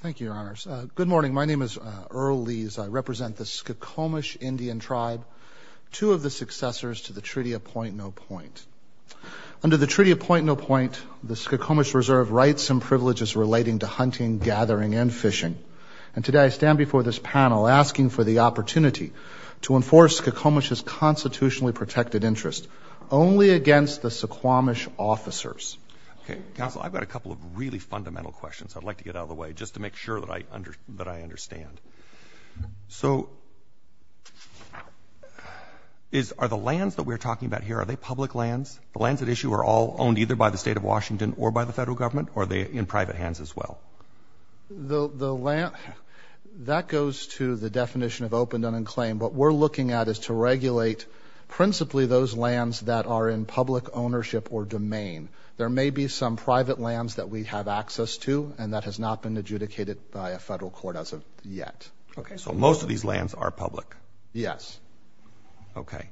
Thank you, Your Honors. Good morning. My name is Earl Lees. I represent the Skokomish Indian Tribe, two of the successors to the Treaty of Point No Point. Under the Treaty of Point No Point, the Skokomish Reserve rights and privileges relating to hunting, gathering, and fishing. And today I stand before this panel asking for the opportunity to enforce Skokomish's constitutionally protected interests only against the Suquamish officers. Okay. Counsel, I've got a couple of really fundamental questions I'd like to get out of the way just to make sure that I understand. So are the lands that we're talking about here, are they public lands? The lands at issue are all owned either by the State of Washington or by the federal government, or are they in private hands as well? That goes to the definition of open, done, and claim. What we're looking at is to regulate principally those lands that are in public ownership or domain. There may be some private lands that we have access to, and that has not been adjudicated by a federal court as of yet. Okay. So most of these lands are public? Yes. Okay.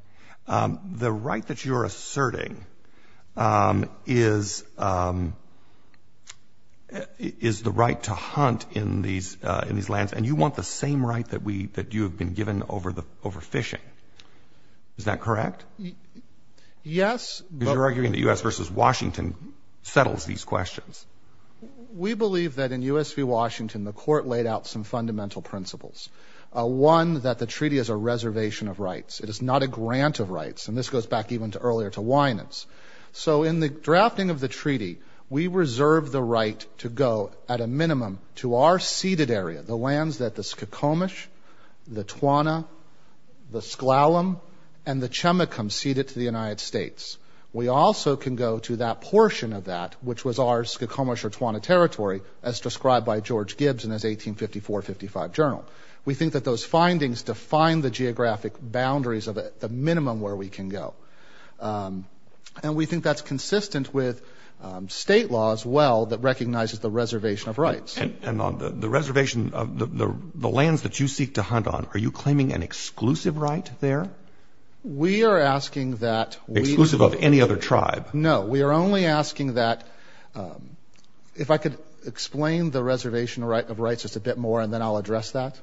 The right that you're asserting is the right to hunt in these lands, and you want the same right that you have been given over fishing. Is that correct? Yes. Because you're arguing that U.S. v. Washington settles these questions. We believe that in U.S. v. Washington, the court laid out some fundamental principles. One, that the treaty is a reservation of rights. It is not a grant of rights, and this goes back even earlier to Winans. So in the drafting of the treaty, we reserve the right to go at a minimum to our ceded area, the lands that the Skokomish, the Twana, the Sklallam, and the Chemekum ceded to the United States. We also can go to that portion of that, which was our Skokomish or Twana territory, as described by George Gibbs in his 1854-55 journal. We think that those findings define the geographic boundaries of the minimum where we can go. And we think that's consistent with state law as well that recognizes the reservation of rights. And on the reservation of the lands that you seek to hunt on, are you claiming an exclusive right there? We are asking that we – Exclusive of any other tribe? No, we are only asking that – if I could explain the reservation of rights just a bit more, and then I'll address that.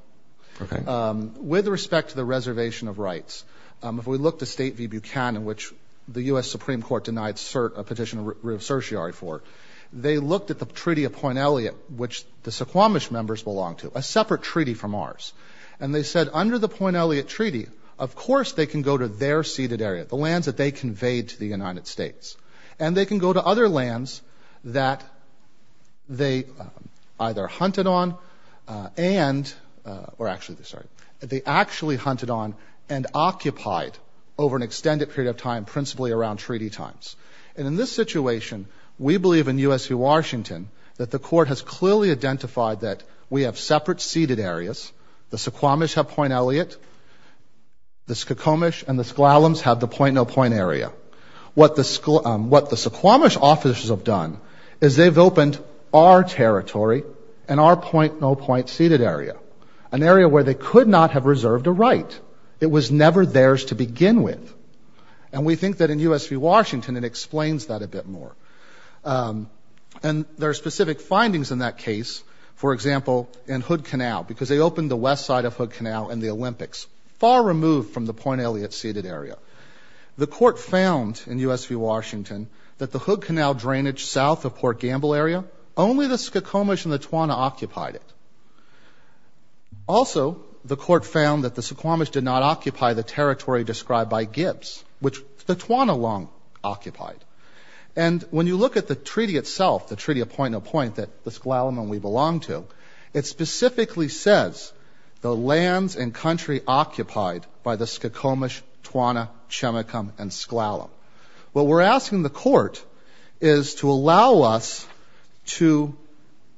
Okay. With respect to the reservation of rights, if we look to State v. Buchanan, which the U.S. Supreme Court denied a petition of certiorari for, they looked at the Treaty of Point Elliott, which the Skokomish members belong to, a separate treaty from ours. And they said, under the Point Elliott Treaty, of course they can go to their ceded area, the lands that they conveyed to the United States. And they can go to other lands that they either hunted on and – or actually, sorry – they actually hunted on and occupied over an extended period of time, principally around treaty times. And in this situation, we believe in U.S. v. Washington that the Court has clearly identified that we have separate ceded areas, the Suquamish have Point Elliott, the Skokomish and the Sklallams have the point-no-point area. What the Suquamish officers have done is they've opened our territory and our point-no-point ceded area, an area where they could not have reserved a right. It was never theirs to begin with. And we think that in U.S. v. Washington, it explains that a bit more. And there are specific findings in that case. For example, in Hood Canal, because they opened the west side of Hood Canal in the Olympics, far removed from the Point Elliott ceded area. The Court found in U.S. v. Washington that the Hood Canal drainage south of Port Gamble area, only the Skokomish and the Twana occupied it. Also, the Court found that the Suquamish did not occupy the territory described by Gibbs, which the Twana long occupied. And when you look at the treaty itself, the treaty of point-no-point that the Sklallam and we belong to, it specifically says the lands and country occupied by the Skokomish, Twana, Chemekum, and Sklallam. What we're asking the Court is to allow us to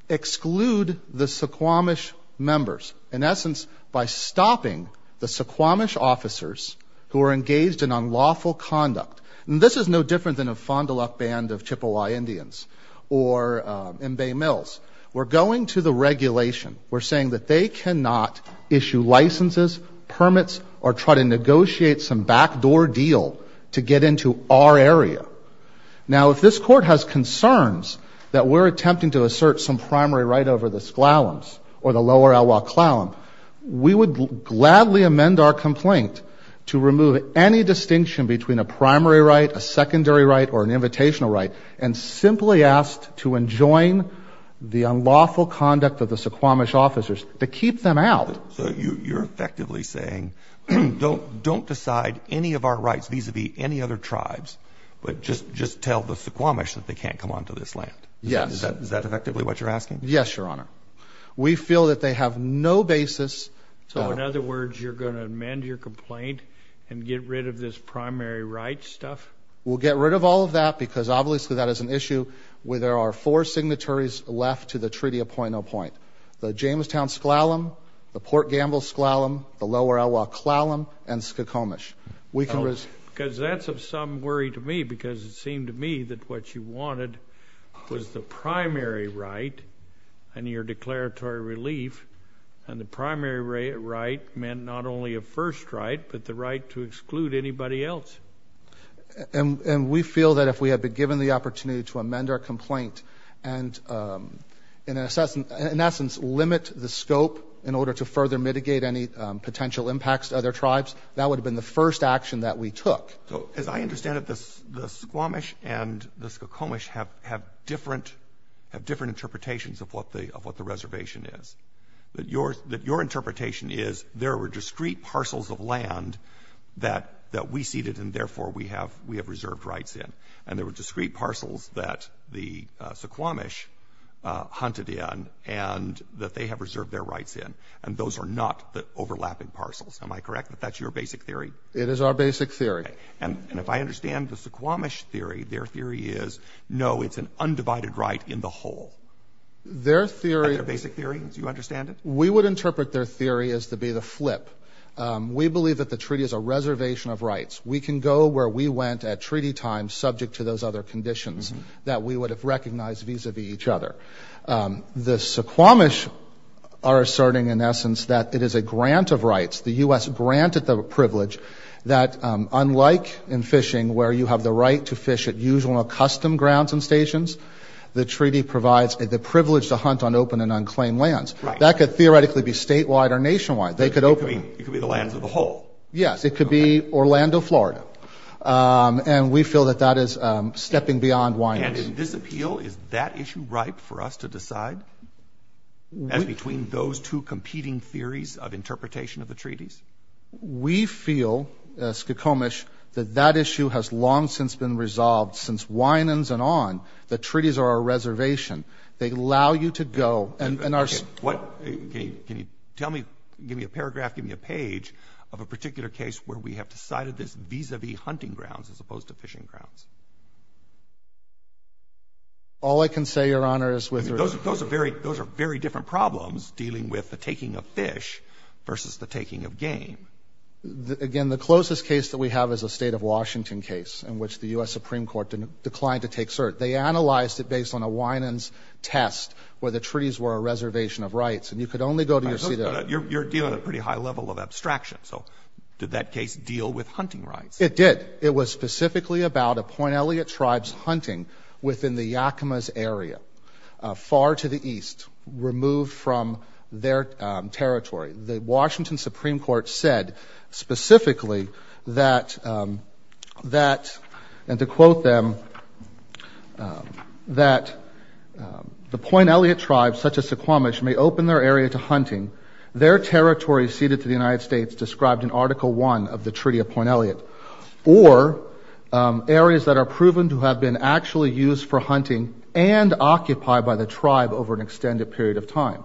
exclude the Suquamish members, in essence, by stopping the Suquamish officers who are engaged in unlawful conduct. And this is no different than a Fond du Lac band of Chippewa Indians or in Bay Mills. We're going to the regulation. We're saying that they cannot issue licenses, permits, or try to negotiate some backdoor deal to get into our area. Now, if this Court has concerns that we're attempting to assert some primary right over the Sklallams or the lower Elwha-Klallam, we would gladly amend our complaint to remove any distinction between a primary right, a secondary right, or an invitational right, and simply ask to enjoin the unlawful conduct of the Suquamish officers to keep them out. So you're effectively saying don't decide any of our rights vis-à-vis any other tribes, but just tell the Suquamish that they can't come onto this land. Yes. Is that effectively what you're asking? Yes, Your Honor. We feel that they have no basis. So in other words, you're going to amend your complaint and get rid of this primary right stuff? We'll get rid of all of that because obviously that is an issue where there are four signatories left to the Treaty of Point-on-Point. The Jamestown Sklallam, the Port Gamble Sklallam, the lower Elwha-Klallam, and Suquamish. Because that's of some worry to me because it seemed to me that what you wanted was the primary right and your declaratory relief, and the primary right meant not only a first right but the right to exclude anybody else. And we feel that if we had been given the opportunity to amend our complaint and in essence limit the scope in order to further mitigate any potential impacts to other tribes, that would have been the first action that we took. So as I understand it, the Suquamish and the Skokomish have different interpretations of what the reservation is. That your interpretation is there were discrete parcels of land that we ceded and therefore we have reserved rights in. And there were discrete parcels that the Suquamish hunted in and that they have reserved their rights in. And those are not the overlapping parcels. Am I correct that that's your basic theory? It is our basic theory. And if I understand the Suquamish theory, their theory is no, it's an undivided right in the whole. Their theory — Is that their basic theory? Do you understand it? We would interpret their theory as to be the flip. We believe that the treaty is a reservation of rights. We can go where we went at treaty time subject to those other conditions that we would have recognized vis-à-vis each other. The Suquamish are asserting, in essence, that it is a grant of rights. The U.S. granted them a privilege that unlike in fishing where you have the right to fish at usual and accustomed grounds and stations, the treaty provides the privilege to hunt on open and unclaimed lands. That could theoretically be statewide or nationwide. It could be the lands of the whole. Yes. It could be Orlando, Florida. And we feel that that is stepping beyond — And in this appeal, is that issue ripe for us to decide? As between those two competing theories of interpretation of the treaties? We feel, Suquamish, that that issue has long since been resolved. Since Winans and on, the treaties are a reservation. They allow you to go — Can you tell me, give me a paragraph, give me a page of a particular case where we have decided this vis-à-vis hunting grounds as opposed to fishing grounds? All I can say, Your Honor, is — Those are very different problems dealing with the taking of fish versus the taking of game. Again, the closest case that we have is a State of Washington case in which the U.S. Supreme Court declined to take cert. They analyzed it based on a Winans test where the treaties were a reservation of rights. And you could only go to your seat — You're dealing at a pretty high level of abstraction. So did that case deal with hunting rights? It did. It was specifically about a Point Elliot tribe's hunting within the Yakamas area, far to the east, removed from their territory. The Washington Supreme Court said specifically that — And to quote them, that the Point Elliot tribe, such as Suquamish, may open their area to hunting. Their territory ceded to the United States described in Article I of the Treaty of Point Elliot. Or areas that are proven to have been actually used for hunting and occupied by the tribe over an extended period of time.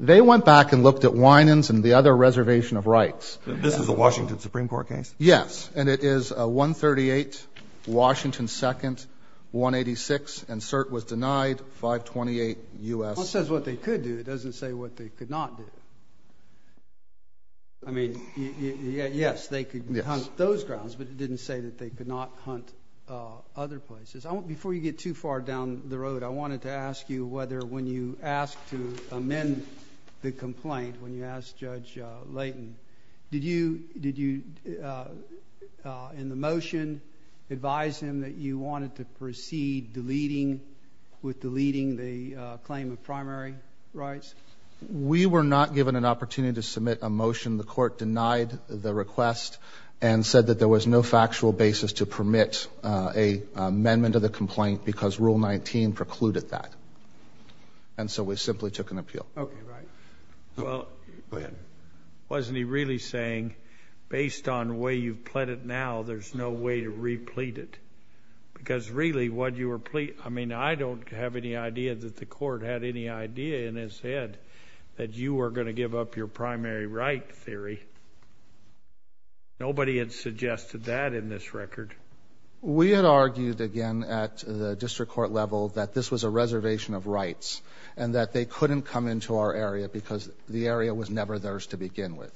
They went back and looked at Winans and the other reservation of rights. This is a Washington Supreme Court case? Yes. And it is 138 Washington 2nd, 186, and cert was denied, 528 U.S. — I mean, yes, they could hunt those grounds, but it didn't say that they could not hunt other places. Before you get too far down the road, I wanted to ask you whether when you asked to amend the complaint, when you asked Judge Layton, did you, in the motion, advise him that you wanted to proceed with deleting the claim of primary rights? We were not given an opportunity to submit a motion. The court denied the request and said that there was no factual basis to permit an amendment of the complaint because Rule 19 precluded that. And so we simply took an appeal. Okay, right. Well — Go ahead. Wasn't he really saying, based on the way you've pled it now, there's no way to replete it? Because really, what you were — I mean, I don't have any idea that the court had any idea in its head that you were going to give up your primary right theory. Nobody had suggested that in this record. We had argued, again, at the district court level, that this was a reservation of rights and that they couldn't come into our area because the area was never theirs to begin with.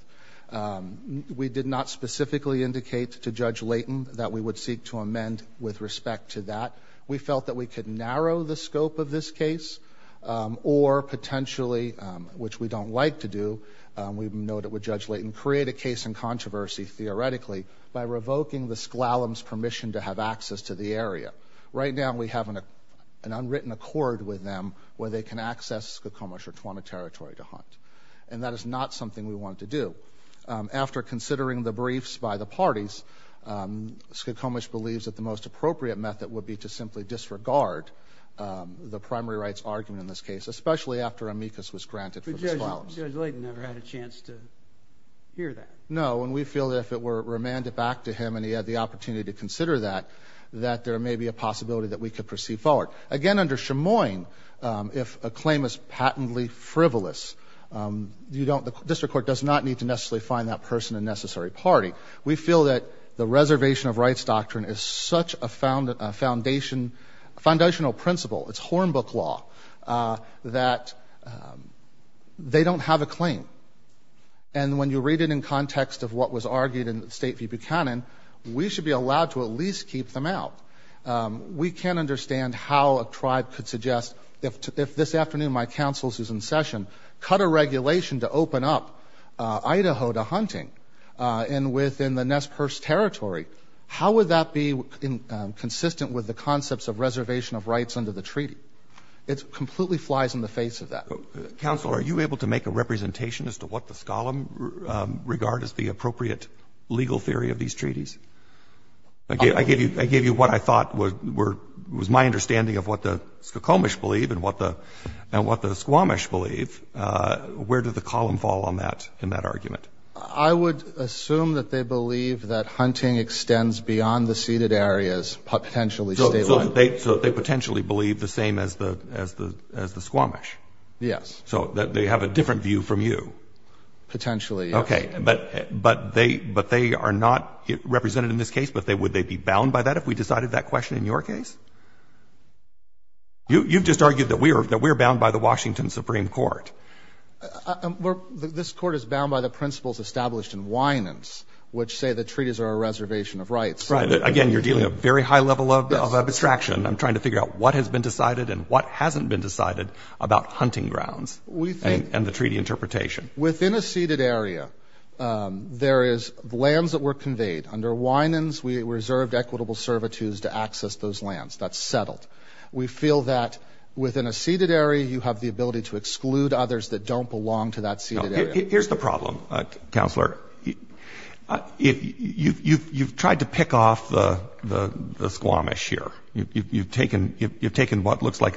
We did not specifically indicate to Judge Layton that we would seek to amend with respect to that. We felt that we could narrow the scope of this case or potentially, which we don't like to do, we noted with Judge Layton, create a case in controversy, theoretically, by revoking the S'Klallam's permission to have access to the area. Right now, we have an unwritten accord with them where they can access Skokomish or Twana territory to hunt. And that is not something we want to do. After considering the briefs by the parties, Skokomish believes that the most appropriate method would be to simply disregard the primary rights argument in this case, especially after amicus was granted for the S'Klallam's. But Judge Layton never had a chance to hear that. No, and we feel that if it were remanded back to him and he had the opportunity to consider that, that there may be a possibility that we could proceed forward. Again, under Chemoin, if a claim is patently frivolous, the district court does not need to necessarily find that person a necessary party. We feel that the reservation of rights doctrine is such a foundational principle, it's hornbook law, that they don't have a claim. And when you read it in context of what was argued in the State v. Buchanan, we should be allowed to at least keep them out. We can't understand how a tribe could suggest, if this afternoon my counsel is in session, cut a regulation to open up Idaho to hunting and within the Nez Perce territory, how would that be consistent with the concepts of reservation of rights under the treaty? It completely flies in the face of that. Counsel, are you able to make a representation as to what the S'Klallam regard as the appropriate legal theory of these treaties? I gave you what I thought was my understanding of what the S'Klallamish believe and what the Squamish believe. Where did the column fall on that, in that argument? I would assume that they believe that hunting extends beyond the ceded areas, potentially statewide. So they potentially believe the same as the Squamish? Yes. So they have a different view from you? Potentially, yes. Okay. But they are not represented in this case, but would they be bound by that if we decided that question in your case? You've just argued that we're bound by the Washington Supreme Court. This Court is bound by the principles established in Winants, which say the treaties are a reservation of rights. Right. Again, you're dealing a very high level of abstraction. I'm trying to figure out what has been decided and what hasn't been decided about hunting grounds and the treaty interpretation. Within a ceded area, there is lands that were conveyed. Under Winants, we reserved equitable servitudes to access those lands. That's settled. We feel that within a ceded area, you have the ability to exclude others that don't belong to that ceded area. Here's the problem, Counselor. You've tried to pick off the Squamish here. You've taken what looks like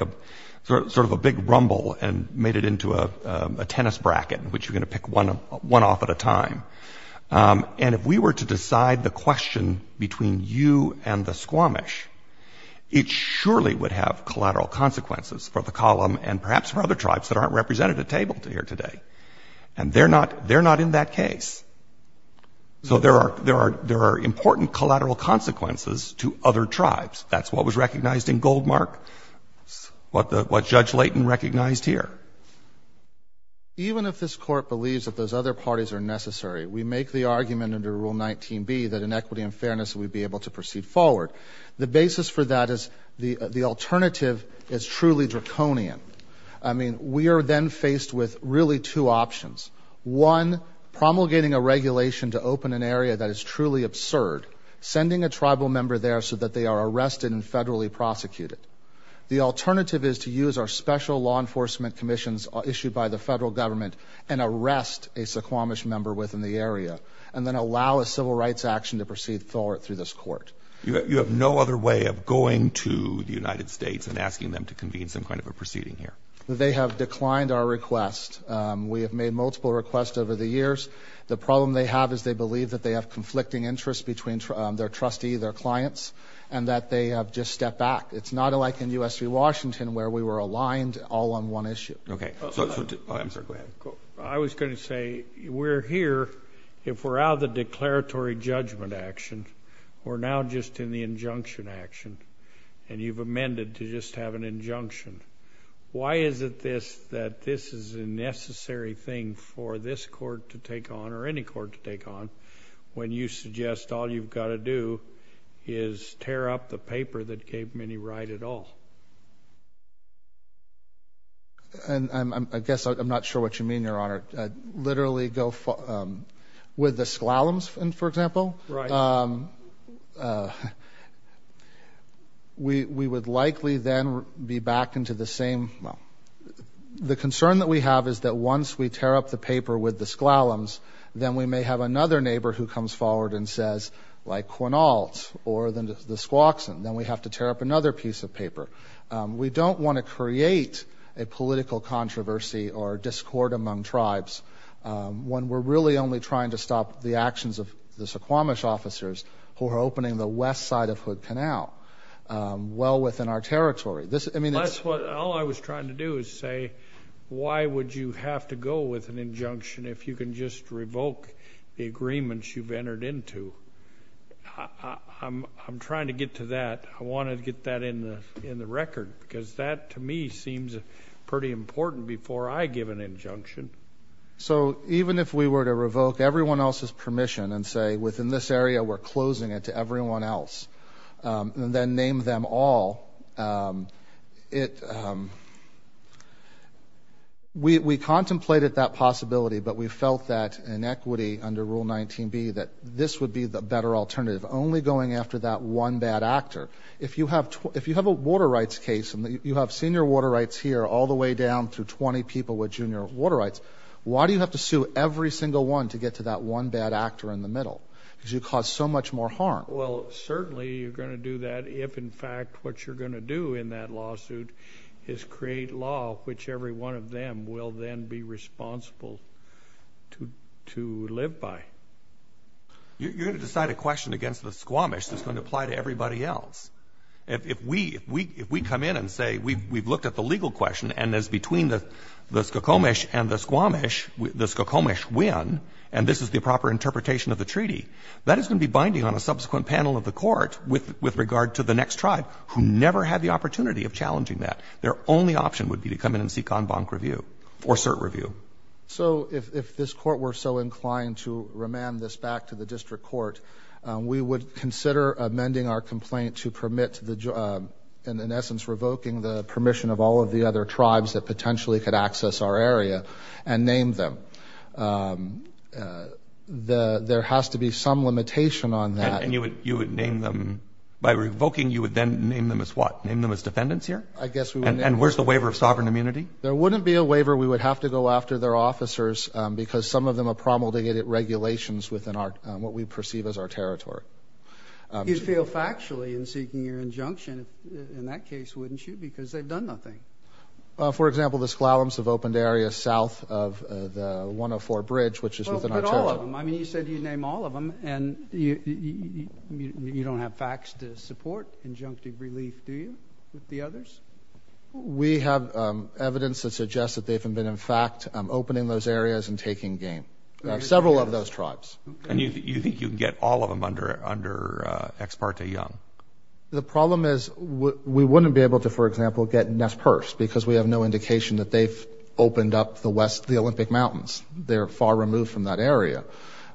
sort of a big rumble and made it into a tennis bracket, which you're going to pick one off at a time. And if we were to decide the question between you and the Squamish, it surely would have collateral consequences for the column and perhaps for other tribes that aren't represented at table here today. And they're not in that case. So there are important collateral consequences to other tribes. That's what was recognized in Goldmark, what Judge Layton recognized here. Even if this Court believes that those other parties are necessary, we make the argument under Rule 19b that in equity and fairness we'd be able to proceed forward. The basis for that is the alternative is truly draconian. I mean, we are then faced with really two options. One, promulgating a regulation to open an area that is truly absurd, sending a tribal member there so that they are arrested and federally prosecuted. The alternative is to use our special law enforcement commissions issued by the federal government and arrest a Squamish member within the area and then allow a civil rights action to proceed forward through this Court. You have no other way of going to the United States and asking them to convene some kind of a proceeding here? They have declined our request. We have made multiple requests over the years. The problem they have is they believe that they have conflicting interests between their trustee, their clients, and that they have just stepped back. It's not like in U.S. v. Washington where we were aligned all on one issue. Okay. I'm sorry, go ahead. I was going to say we're here if we're out of the declaratory judgment action. We're now just in the injunction action, and you've amended to just have an injunction. Why is it that this is a necessary thing for this Court to take on or any Court to take on when you suggest all you've got to do is tear up the paper that gave Minnie Wright it all? I guess I'm not sure what you mean, Your Honor. Literally go with the S'Klallams, for example? Right. We would likely then be back into the same. The concern that we have is that once we tear up the paper with the S'Klallams, then we may have another neighbor who comes forward and says, like, Quinault or the Squaxin. Then we have to tear up another piece of paper. We don't want to create a political controversy or discord among tribes when we're really only trying to stop the actions of the Suquamish officers who are opening the west side of Hood Canal well within our territory. All I was trying to do is say, why would you have to go with an injunction if you can just revoke the agreements you've entered into? I'm trying to get to that. I want to get that in the record because that, to me, seems pretty important before I give an injunction. So even if we were to revoke everyone else's permission and say, within this area we're closing it to everyone else and then name them all, we contemplated that possibility, but we felt that in equity under Rule 19b, that this would be the better alternative, only going after that one bad actor. If you have a water rights case and you have senior water rights here all the way down through 20 people with junior water rights, why do you have to sue every single one to get to that one bad actor in the middle? Because you cause so much more harm. Well, certainly you're going to do that if, in fact, what you're going to do in that lawsuit is create law, which every one of them will then be responsible to live by. You're going to decide a question against the Squamish that's going to apply to everybody else. If we come in and say we've looked at the legal question and it's between the Squamish and the Squamish, the Squamish win, and this is the proper interpretation of the treaty, that is going to be binding on a subsequent panel of the court with regard to the next tribe who never had the opportunity of challenging that. Their only option would be to come in and seek en banc review or cert review. So if this court were so inclined to remand this back to the district court, we would consider amending our complaint to permit, in essence, revoking the permission of all of the other tribes that potentially could access our area and name them. There has to be some limitation on that. And you would name them? By revoking, you would then name them as what? I guess we would. And where's the waiver of sovereign immunity? There wouldn't be a waiver. We would have to go after their officers because some of them are promulgated regulations within what we perceive as our territory. You'd feel factually in seeking your injunction in that case, wouldn't you, because they've done nothing. For example, the Sklallams have opened areas south of the 104 Bridge, which is within our territory. Well, put all of them. I mean, you said you'd name all of them, and you don't have facts to support injunctive relief, do you, with the others? We have evidence that suggests that they've been, in fact, opening those areas and taking gain. Several of those tribes. And you think you can get all of them under Ex parte Young? The problem is we wouldn't be able to, for example, get Nez Perce because we have no indication that they've opened up the Olympic Mountains. They're far removed from that area.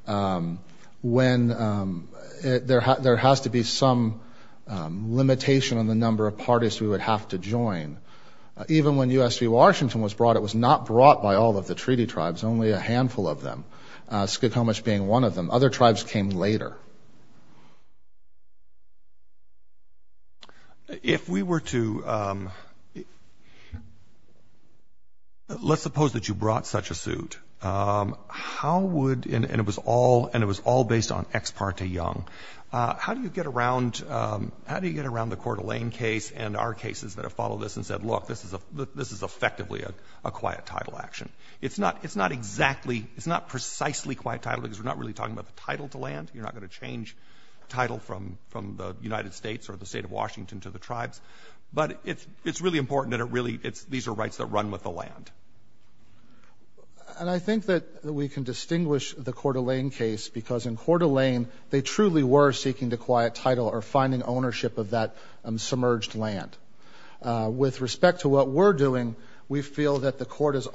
There has to be some limitation on the number of parties we would have to join. Even when U.S. v. Washington was brought, it was not brought by all of the treaty tribes, only a handful of them, Skokomish being one of them. Other tribes came later. If we were to — let's suppose that you brought such a suit, how would — and it was all based on Ex parte Young. How do you get around the Coeur d'Alene case and our cases that have followed this and said, look, this is effectively a quiet title action? It's not exactly, it's not precisely quiet title because we're not really talking about the title to land. You're not going to change title from the United States or the state of Washington to the tribes. But it's really important that it really — these are rights that run with the land. And I think that we can distinguish the Coeur d'Alene case because in Coeur d'Alene they truly were seeking the quiet title or finding ownership of that submerged land. With respect to what we're doing, we feel that the court is —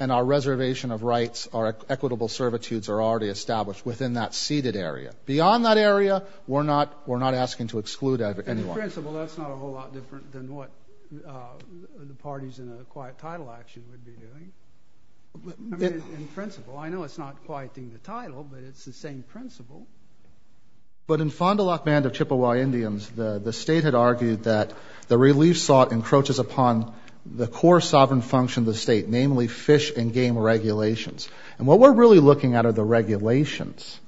and our reservation of rights, our equitable servitudes are already established within that seated area. Beyond that area, we're not asking to exclude anyone. In principle, that's not a whole lot different than what the parties in a quiet title action would be doing. I mean, in principle. I know it's not quieting the title, but it's the same principle. But in Fond du Lac Band of Chippewa Indians, the state had argued that the relief slot encroaches upon the core sovereign function of the state, namely fish and game regulations. And what we're really looking at are the regulations.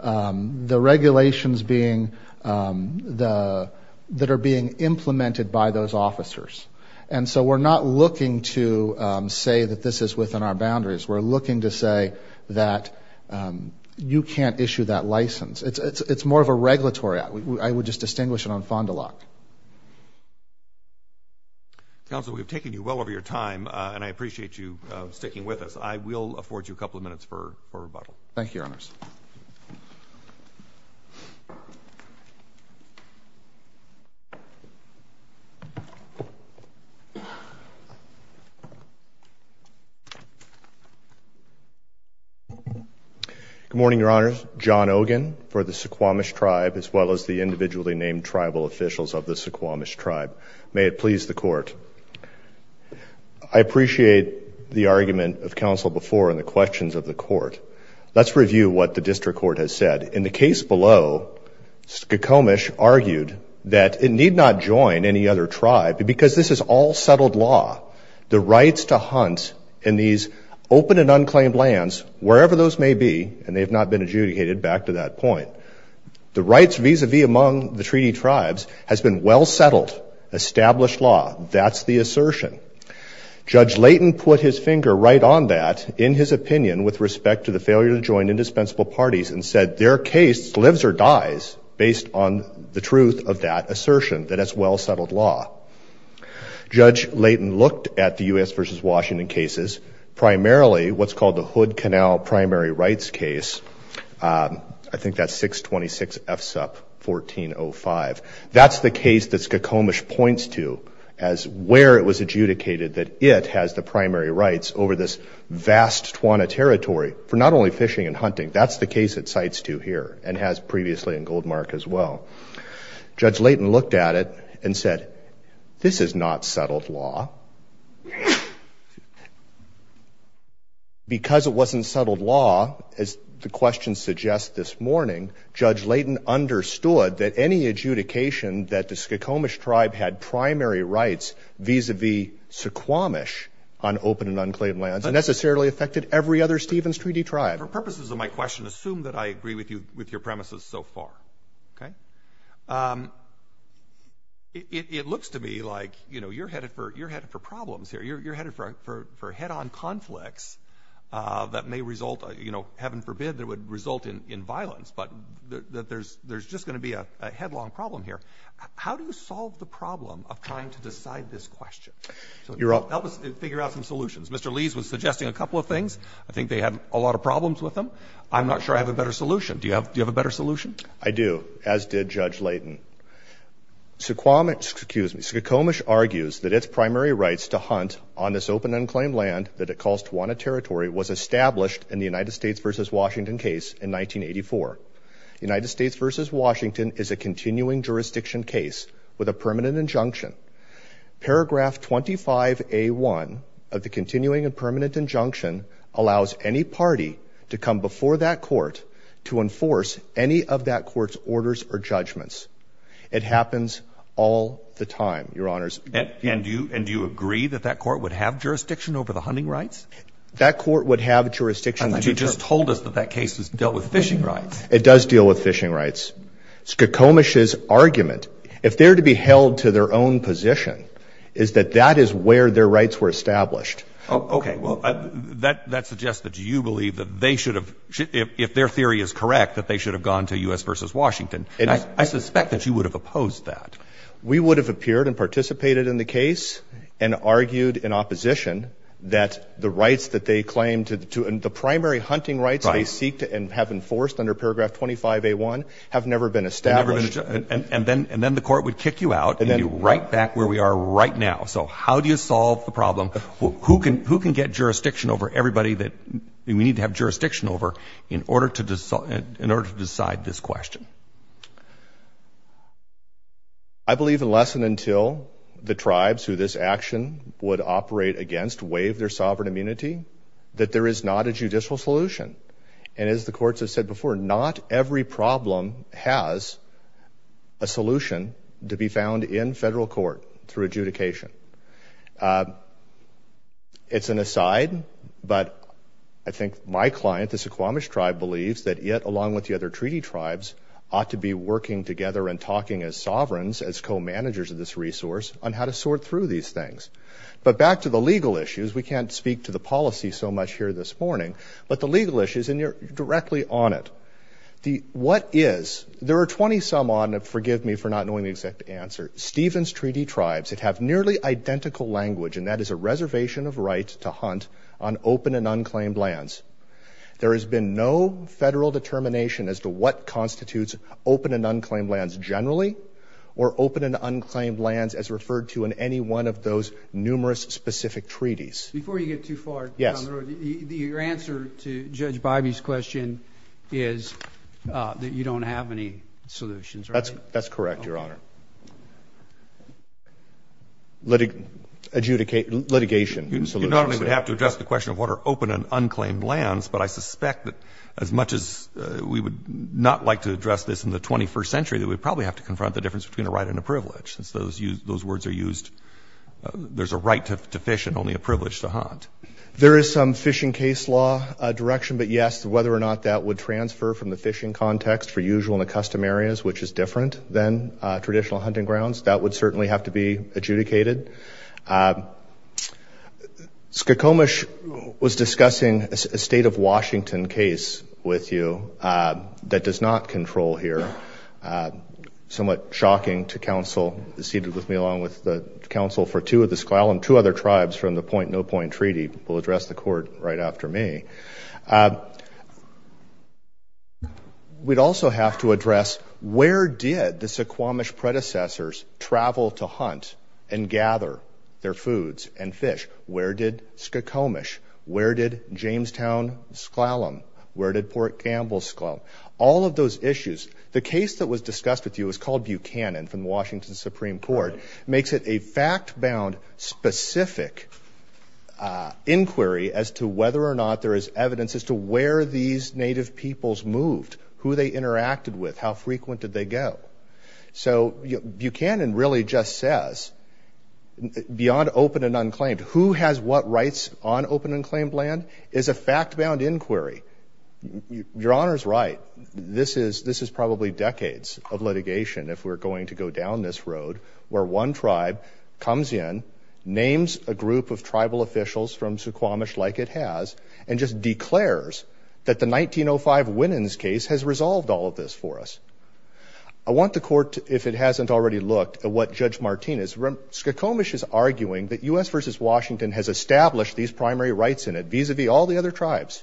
The regulations being the — that are being implemented by those officers. And so we're not looking to say that this is within our boundaries. We're looking to say that you can't issue that license. It's more of a regulatory act. I would just distinguish it on Fond du Lac. Counsel, we've taken you well over your time, and I appreciate you sticking with us. I will afford you a couple of minutes for rebuttal. Thank you, Your Honors. Good morning, Your Honors. John Ogin for the Suquamish Tribe, as well as the individually named tribal officials of the Suquamish Tribe. May it please the Court. I appreciate the argument of counsel before and the questions of the Court. Let's review what the district court has said. In the case below, Suquamish argued that it need not join any other tribe because this is all settled law. The rights to hunt in these open and unclaimed lands, wherever those may be, and they have not been adjudicated back to that point, the rights vis-a-vis among the treaty tribes has been well settled, established law. That's the assertion. Judge Layton put his finger right on that in his opinion with respect to the failure to join indispensable parties and said their case lives or dies based on the truth of that assertion, that it's well settled law. Judge Layton looked at the U.S. versus Washington cases, primarily what's called the Hood Canal primary rights case. I think that's 626 FSUP 1405. That's the case that Suquamish points to as where it was adjudicated that it has the primary rights over this vast Tijuana territory for not only fishing and hunting. That's the case it cites to here and has previously in Goldmark as well. Judge Layton looked at it and said, this is not settled law. Because it wasn't settled law, as the question suggests this morning, Judge Layton understood that any adjudication that the Suquamish tribe had primary rights vis-a-vis Suquamish on open and unclaimed lands necessarily affected every other Stevens Treaty tribe. For purposes of my question, assume that I agree with your premises so far. Okay? It looks to me like, you know, you're headed for problems here. You're headed for head-on conflicts that may result, you know, heaven forbid, that would result in violence. But there's just going to be a headlong problem here. How do you solve the problem of trying to decide this question? Help us figure out some solutions. Mr. Lees was suggesting a couple of things. I think they had a lot of problems with them. I'm not sure I have a better solution. Do you have a better solution? I do, as did Judge Layton. Suquamish argues that its primary rights to hunt on this open unclaimed land that it calls Tijuana territory was established in the United States v. Washington case in 1984. United States v. Washington is a continuing jurisdiction case with a permanent injunction. Paragraph 25A1 of the continuing and permanent injunction allows any party to come before that court to enforce any of that court's orders or judgments. It happens all the time, Your Honors. And do you agree that that court would have jurisdiction over the hunting rights? That court would have jurisdiction. But you just told us that that case dealt with fishing rights. It does deal with fishing rights. Suquamish's argument, if they're to be held to their own position, is that that is where their rights were established. Okay, well, that suggests that you believe that they should have, if their theory is correct, that they should have gone to U.S. v. Washington. I suspect that you would have opposed that. We would have appeared and participated in the case and argued in opposition that the rights that they claimed to the primary hunting rights they seek to have enforced under paragraph 25A1 have never been established. And then the court would kick you out and be right back where we are right now. So how do you solve the problem? Who can get jurisdiction over everybody that we need to have jurisdiction over in order to decide this question? I believe unless and until the tribes who this action would operate against waive their sovereign immunity, that there is not a judicial solution. And as the courts have said before, not every problem has a solution to be found in federal court through adjudication. It's an aside, but I think my client, the Suquamish tribe, believes that it, along with the other treaty tribes, ought to be working together and talking as sovereigns, as co-managers of this resource, on how to sort through these things. But back to the legal issues, we can't speak to the policy so much here this morning, but the legal issues, and you're directly on it. What is, there are 20-some on, forgive me for not knowing the exact answer, Stevens Treaty tribes that have nearly identical language, and that is a reservation of rights to hunt on open and unclaimed lands. There has been no federal determination as to what constitutes open and unclaimed lands generally or open and unclaimed lands as referred to in any one of those numerous specific treaties. Before you get too far, Your Honor, your answer to Judge Bybee's question is that you don't have any solutions, right? That's correct, Your Honor. Okay. Litigation solutions. You not only would have to address the question of what are open and unclaimed lands, but I suspect that as much as we would not like to address this in the 21st century, that we'd probably have to confront the difference between a right and a privilege, since those words are used, there's a right to fish and only a privilege to hunt. There is some fishing case law direction, but yes, whether or not that would transfer from the fishing context for usual and accustomed areas, which is different than traditional hunting grounds, that would certainly have to be adjudicated. Squamish was discussing a state of Washington case with you that does not control here. Somewhat shocking to counsel seated with me along with the counsel for two of the Squallam, two other tribes from the point-no-point treaty, will address the court right after me. We'd also have to address where did the Squamish predecessors travel to hunt and gather their foods and fish? Where did Squamish? Where did Jamestown Squallam? Where did Port Gamble Squallam? All of those issues. The case that was discussed with you is called Buchanan from Washington Supreme Court. It makes it a fact-bound, specific inquiry as to whether or not there is evidence as to where these native peoples moved, who they interacted with, how frequent did they go. So Buchanan really just says, beyond open and unclaimed, who has what rights on open and claimed land is a fact-bound inquiry. Your Honor's right. This is probably decades of litigation if we're going to go down this road where one tribe comes in, names a group of tribal officials from Squamish like it has, and just declares that the 1905 Winans case has resolved all of this for us. I want the court, if it hasn't already looked, at what Judge Martinez. Squamish is arguing that U.S. v. Washington has established these primary rights in it vis-à-vis all the other tribes.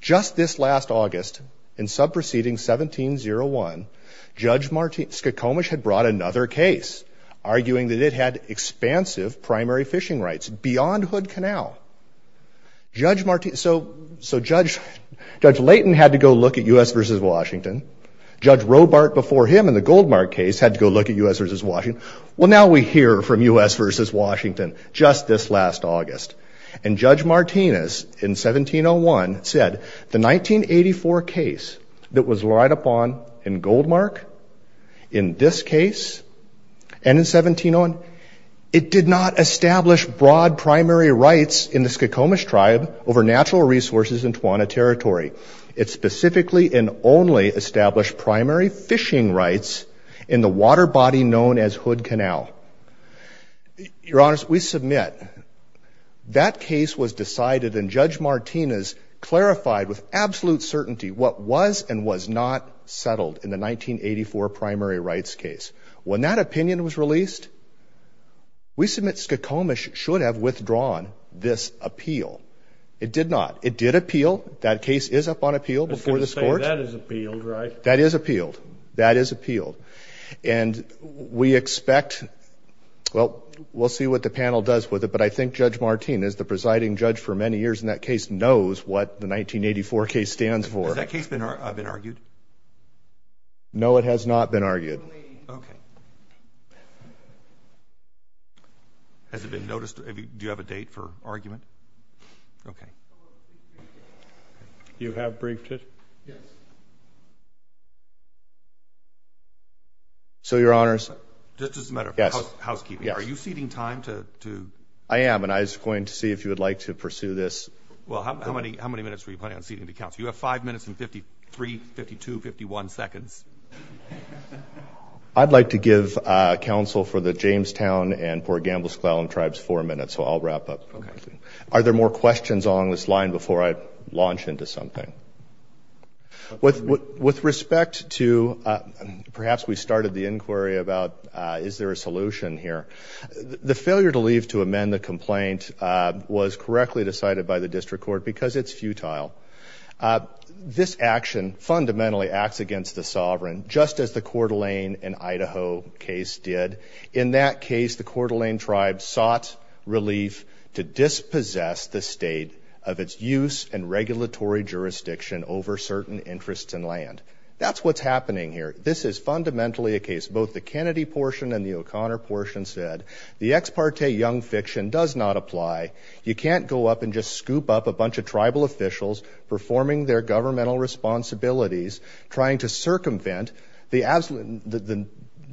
Just this last August, in sub-proceeding 1701, Judge Squamish had brought another case arguing that it had expansive primary fishing rights beyond Hood Canal. So Judge Layton had to go look at U.S. v. Washington. Judge Robart before him in the Goldmark case had to go look at U.S. v. Washington. Well, now we hear from U.S. v. Washington just this last August. And Judge Martinez in 1701 said the 1984 case that was relied upon in Goldmark, in this case, and in 1701, it did not establish broad primary rights in the Squamish tribe over natural resources in Tawana Territory. It specifically and only established primary fishing rights in the water body known as Hood Canal. Your Honor, we submit that case was decided, and Judge Martinez clarified with absolute certainty what was and was not settled in the 1984 primary rights case. When that opinion was released, we submit Squamish should have withdrawn this appeal. It did not. It did appeal. That case is up on appeal before this Court. That is appealed, right? That is appealed. That is appealed. And we expect, well, we'll see what the panel does with it, but I think Judge Martinez, the presiding judge for many years in that case, knows what the 1984 case stands for. Has that case been argued? No, it has not been argued. Okay. Has it been noticed? Do you have a date for argument? Okay. You have briefed it? Yes. So, Your Honors. Just as a matter of housekeeping, are you ceding time to? I am, and I was going to see if you would like to pursue this. Well, how many minutes were you planning on ceding to counsel? You have five minutes and 53, 52, 51 seconds. I'd like to give counsel for the Jamestown and Port Gamble-Sclallam tribes four minutes, so I'll wrap up. Are there more questions along this line before I launch into something? With respect to perhaps we started the inquiry about is there a solution here, the failure to leave to amend the complaint was correctly decided by the district court because it's futile. This action fundamentally acts against the sovereign, just as the Coeur d'Alene and Idaho case did. In that case, the Coeur d'Alene tribe sought relief to dispossess the state of its use and regulatory jurisdiction over certain interests and land. That's what's happening here. This is fundamentally a case. Both the Kennedy portion and the O'Connor portion said, the ex parte young fiction does not apply. You can't go up and just scoop up a bunch of tribal officials performing their governmental responsibilities, trying to circumvent the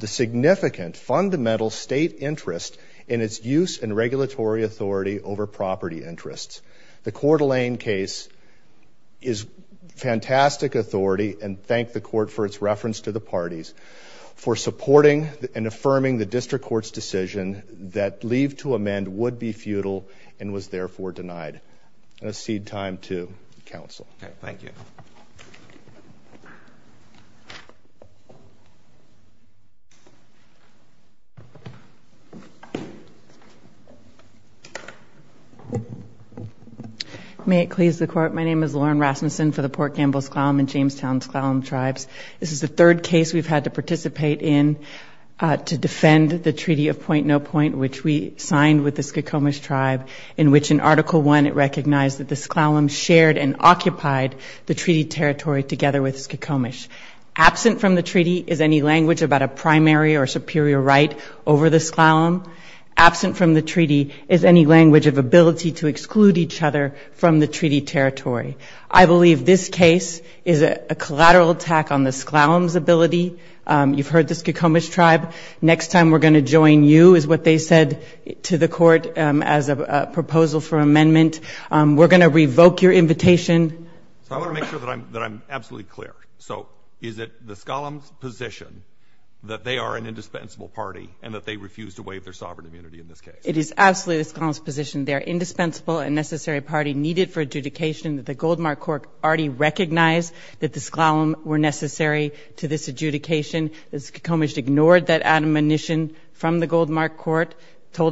significant fundamental state interest in its use and regulatory authority over property interests. The Coeur d'Alene case is fantastic authority, and thank the court for its reference to the parties, for supporting and affirming the district court's decision that leave to amend would be futile and was therefore denied. I'm going to cede time to counsel. Thank you. May it please the court. My name is Lauren Rasmussen for the Port Gamble S'Klallam and Jamestown S'Klallam tribes. This is the third case we've had to participate in to defend the Treaty of Point-No-Point, which we signed with the Skokomish tribe, in which in Article I it recognized that the S'Klallam shared and occupied the treaty territory together with Skokomish. Absent from the treaty is any language about a primary or superior right over the S'Klallam. Absent from the treaty is any language of ability to exclude each other from the treaty territory. I believe this case is a collateral attack on the S'Klallam's ability. You've heard the Skokomish tribe. Next time we're going to join you is what they said to the court as a proposal for amendment. We're going to revoke your invitation. I want to make sure that I'm absolutely clear. So is it the S'Klallam's position that they are an indispensable party and that they refuse to waive their sovereign immunity in this case? It is absolutely the S'Klallam's position. They are an indispensable and necessary party needed for adjudication. The Goldmark Court already recognized that the S'Klallam were necessary to this adjudication. The Skokomish ignored that admonition from the Goldmark Court,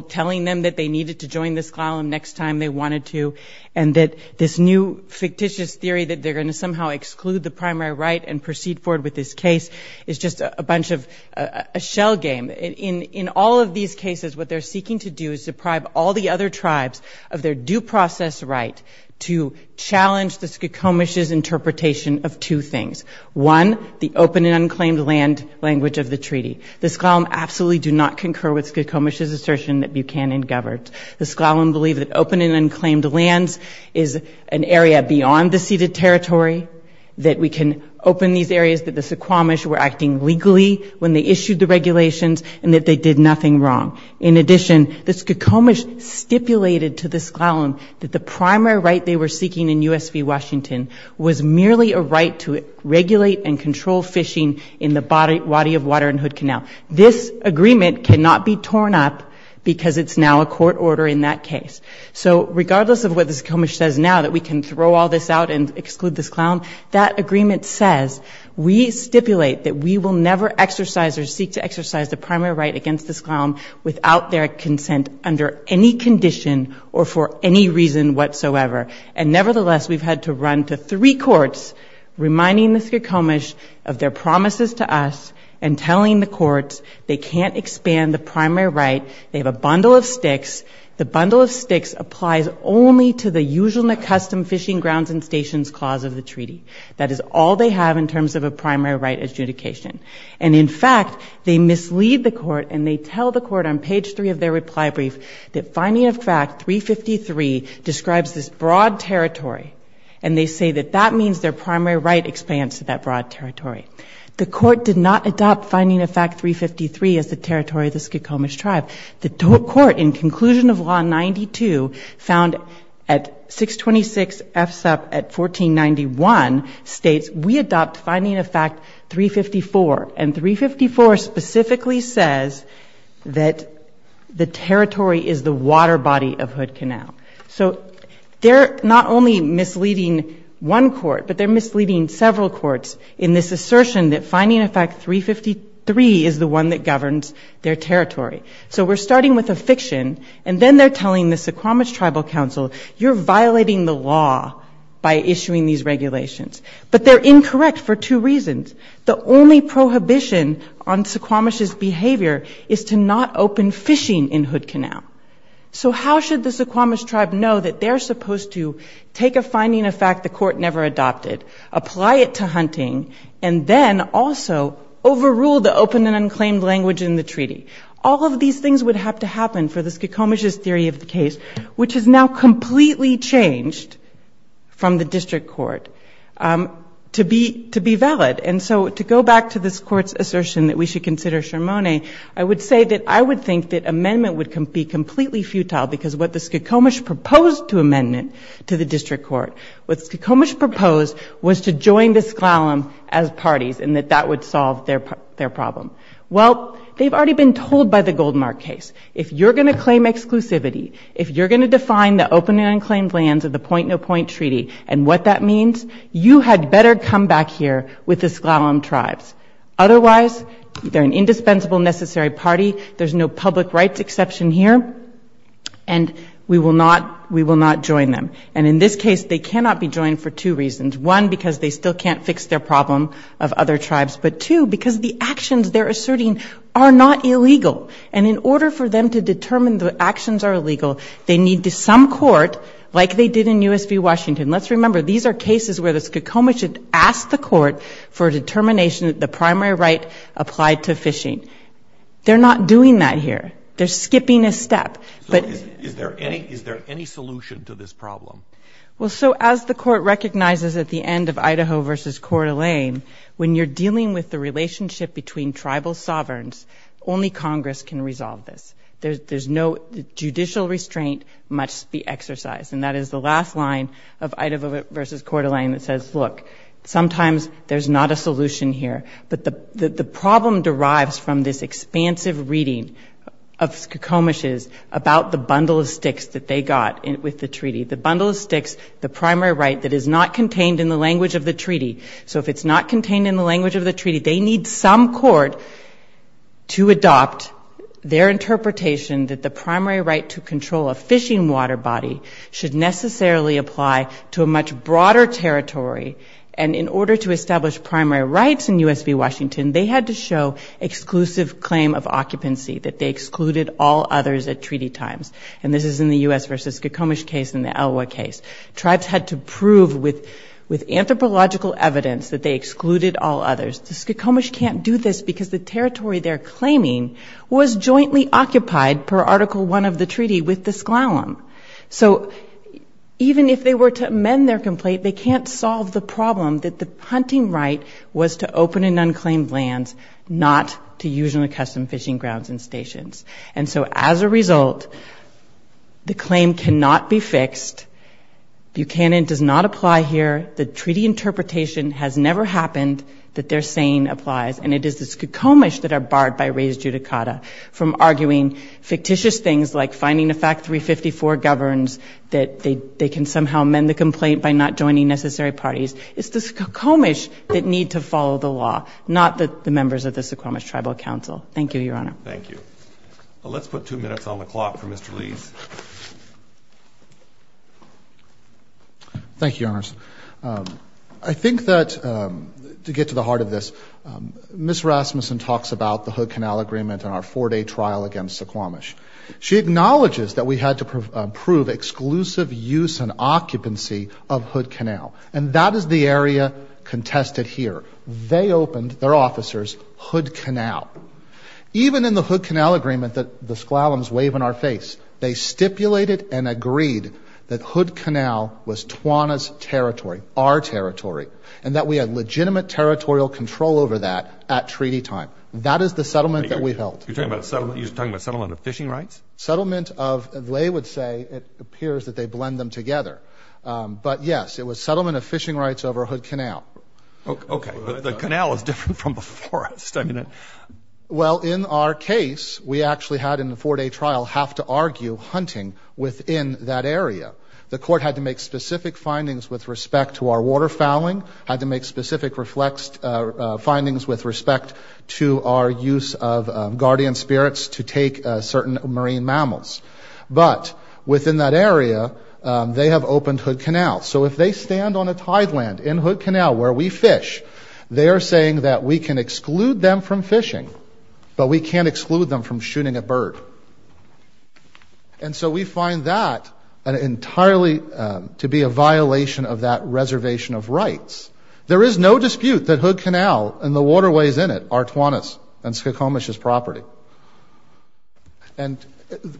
telling them that they needed to join the S'Klallam next time they wanted to and that this new fictitious theory that they're going to somehow exclude the primary right and proceed forward with this case is just a bunch of a shell game. In all of these cases, what they're seeking to do is deprive all the other tribes of their due process right to challenge the Skokomish's interpretation of two things. One, the open and unclaimed land language of the treaty. The S'Klallam absolutely do not concur with Skokomish's assertion that Buchanan governed. The S'Klallam believe that open and unclaimed lands is an area beyond the ceded territory, that we can open these areas that the S'Klallam were acting legally when they issued the regulations and that they did nothing wrong. In addition, the Skokomish stipulated to the S'Klallam that the primary right they were seeking in U.S. v. Washington was merely a right to regulate and control fishing in the Wadi of Water and Hood Canal. This agreement cannot be torn up because it's now a court order in that case. So regardless of what the Skokomish says now, that we can throw all this out and exclude the S'Klallam, that agreement says we stipulate that we will never exercise or seek to exercise the primary right against the S'Klallam without their consent under any condition or for any reason whatsoever. And nevertheless, we've had to run to three courts reminding the Skokomish of their promises to us and telling the courts they can't expand the primary right. They have a bundle of sticks. The bundle of sticks applies only to the usual and accustomed fishing grounds and stations clause of the treaty. That is all they have in terms of a primary right adjudication. And in fact, they mislead the court and they tell the court on page 3 of their reply brief that finding of fact 353 describes this broad territory, and they say that that means their primary right expands to that broad territory. The court did not adopt finding of fact 353 as the territory of the Skokomish tribe. The court in conclusion of law 92 found at 626 FSUP at 1491 states we adopt finding of fact 354, and 354 specifically says that the territory is the water body of Hood Canal. So they're not only misleading one court, but they're misleading several courts in this assertion that finding of fact 353 is the one that governs their territory. So we're starting with a fiction, and then they're telling the Skokomish Tribal Council, you're violating the law by issuing these regulations. But they're incorrect for two reasons. The only prohibition on Skokomish's behavior is to not open fishing in Hood Canal. So how should the Skokomish tribe know that they're supposed to take a finding of fact the court never adopted, apply it to hunting, and then also overrule the open and unclaimed language in the treaty? All of these things would have to happen for the Skokomish's theory of the case, which has now completely changed from the district court to be valid. And so to go back to this court's assertion that we should consider shermone, I would say that I would think that amendment would be completely futile because what the Skokomish proposed to amend it to the district court, what Skokomish proposed was to join the Sklallam as parties and that that would solve their problem. Well, they've already been told by the Goldmark case, if you're going to claim exclusivity, if you're going to define the open and unclaimed lands of the point-no-point treaty and what that means, you had better come back here with the Sklallam tribes. Otherwise, they're an indispensable necessary party. There's no public rights exception here. And we will not join them. And in this case, they cannot be joined for two reasons. One, because they still can't fix their problem of other tribes. But two, because the actions they're asserting are not illegal. And in order for them to determine the actions are illegal, they need some court, like they did in U.S. v. Washington. Let's remember, these are cases where the Skokomish had asked the court for a determination that the primary right applied to fishing. They're not doing that here. They're skipping a step. So is there any solution to this problem? Well, so as the court recognizes at the end of Idaho v. Coeur d'Alene, when you're dealing with the relationship between tribal sovereigns, only Congress can resolve this. There's no judicial restraint must be exercised. And that is the last line of Idaho v. Coeur d'Alene that says, look, sometimes there's not a solution here. But the problem derives from this expansive reading of Skokomish's about the bundle of sticks that they got with the treaty. The bundle of sticks, the primary right that is not contained in the language of the treaty. So if it's not contained in the language of the treaty, they need some court to adopt their interpretation that the primary right to control a fishing water body should necessarily apply to a much broader territory. And in order to establish primary rights in U.S. v. Washington, they had to show exclusive claim of occupancy, that they excluded all others at treaty times. And this is in the U.S. v. Skokomish case and the Elwha case. Tribes had to prove with anthropological evidence that they excluded all others. The Skokomish can't do this because the territory they're claiming was jointly occupied per Article I of the treaty with the S'Klallam. So even if they were to amend their complaint, they can't solve the problem that the hunting right was to open in unclaimed lands, not to use in the custom fishing grounds and stations. And so as a result, the claim cannot be fixed. Buchanan does not apply here. The treaty interpretation has never happened that their saying applies, and it is the Skokomish that are barred by res judicata from arguing fictitious things like finding a fact 354 governs that they can somehow amend the complaint by not joining necessary parties. It's the Skokomish that need to follow the law, not the members of the Skokomish Tribal Council. Thank you, Your Honor. Let's put two minutes on the clock for Mr. Lees. Thank you, Your Honors. I think that to get to the heart of this, Ms. Rasmussen talks about the Hood Canal Agreement and our four-day trial against the S'Klomish. She acknowledges that we had to prove exclusive use and occupancy of Hood Canal, and that is the area contested here. They opened, their officers, Hood Canal. Even in the Hood Canal Agreement that the S'Klallams wave in our face, they stipulated and agreed that Hood Canal was Tawana's territory, our territory, and that we had legitimate territorial control over that at treaty time. That is the settlement that we held. You're talking about settlement of fishing rights? Settlement of, they would say, it appears that they blend them together. But, yes, it was settlement of fishing rights over Hood Canal. Okay, but the canal is different from the forest. Well, in our case, we actually had in the four-day trial have to argue hunting within that area. The court had to make specific findings with respect to our water fouling, had to make specific findings with respect to our use of guardian spirits to take certain marine mammals. But within that area, they have opened Hood Canal. So if they stand on a tideland in Hood Canal where we fish, they are saying that we can exclude them from fishing, but we can't exclude them from shooting a bird. And so we find that entirely to be a violation of that reservation of rights. There is no dispute that Hood Canal and the waterways in it are Tawana's and S'Klallam's property. And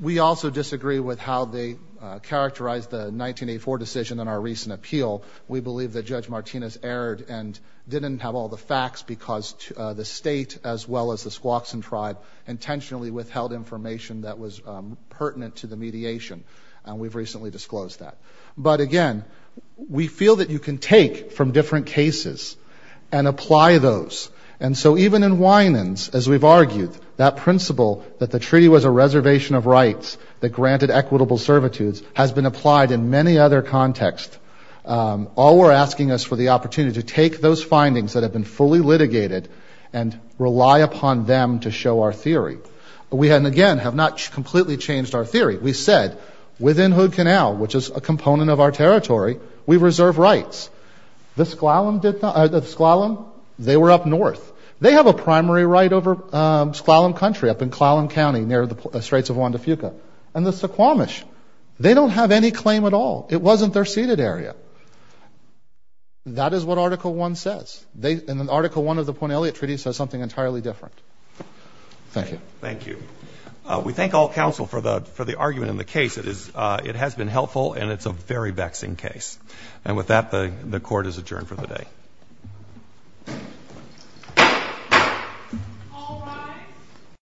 we also disagree with how they characterized the 1984 decision in our recent appeal. We believe that Judge Martinez erred and didn't have all the facts because the state, as well as the Squaxin tribe, intentionally withheld information that was pertinent to the mediation. And we've recently disclosed that. But, again, we feel that you can take from different cases and apply those. And so even in Winans, as we've argued, that principle that the treaty was a reservation of rights that granted equitable servitudes has been applied in many other contexts. All we're asking is for the opportunity to take those findings that have been fully litigated and rely upon them to show our theory. We, again, have not completely changed our theory. We said within Hood Canal, which is a component of our territory, we reserve rights. The S'Klallam, they were up north. They have a primary right over S'Klallam country up in Klallam County near the Straits of Juan de Fuca. And the Suquamish, they don't have any claim at all. It wasn't their ceded area. That is what Article I says. And Article I of the Point Elliot Treaty says something entirely different. Thank you. Thank you. We thank all counsel for the argument in the case. It has been helpful, and it's a very vexing case. And with that, the Court is adjourned for the day. All rise.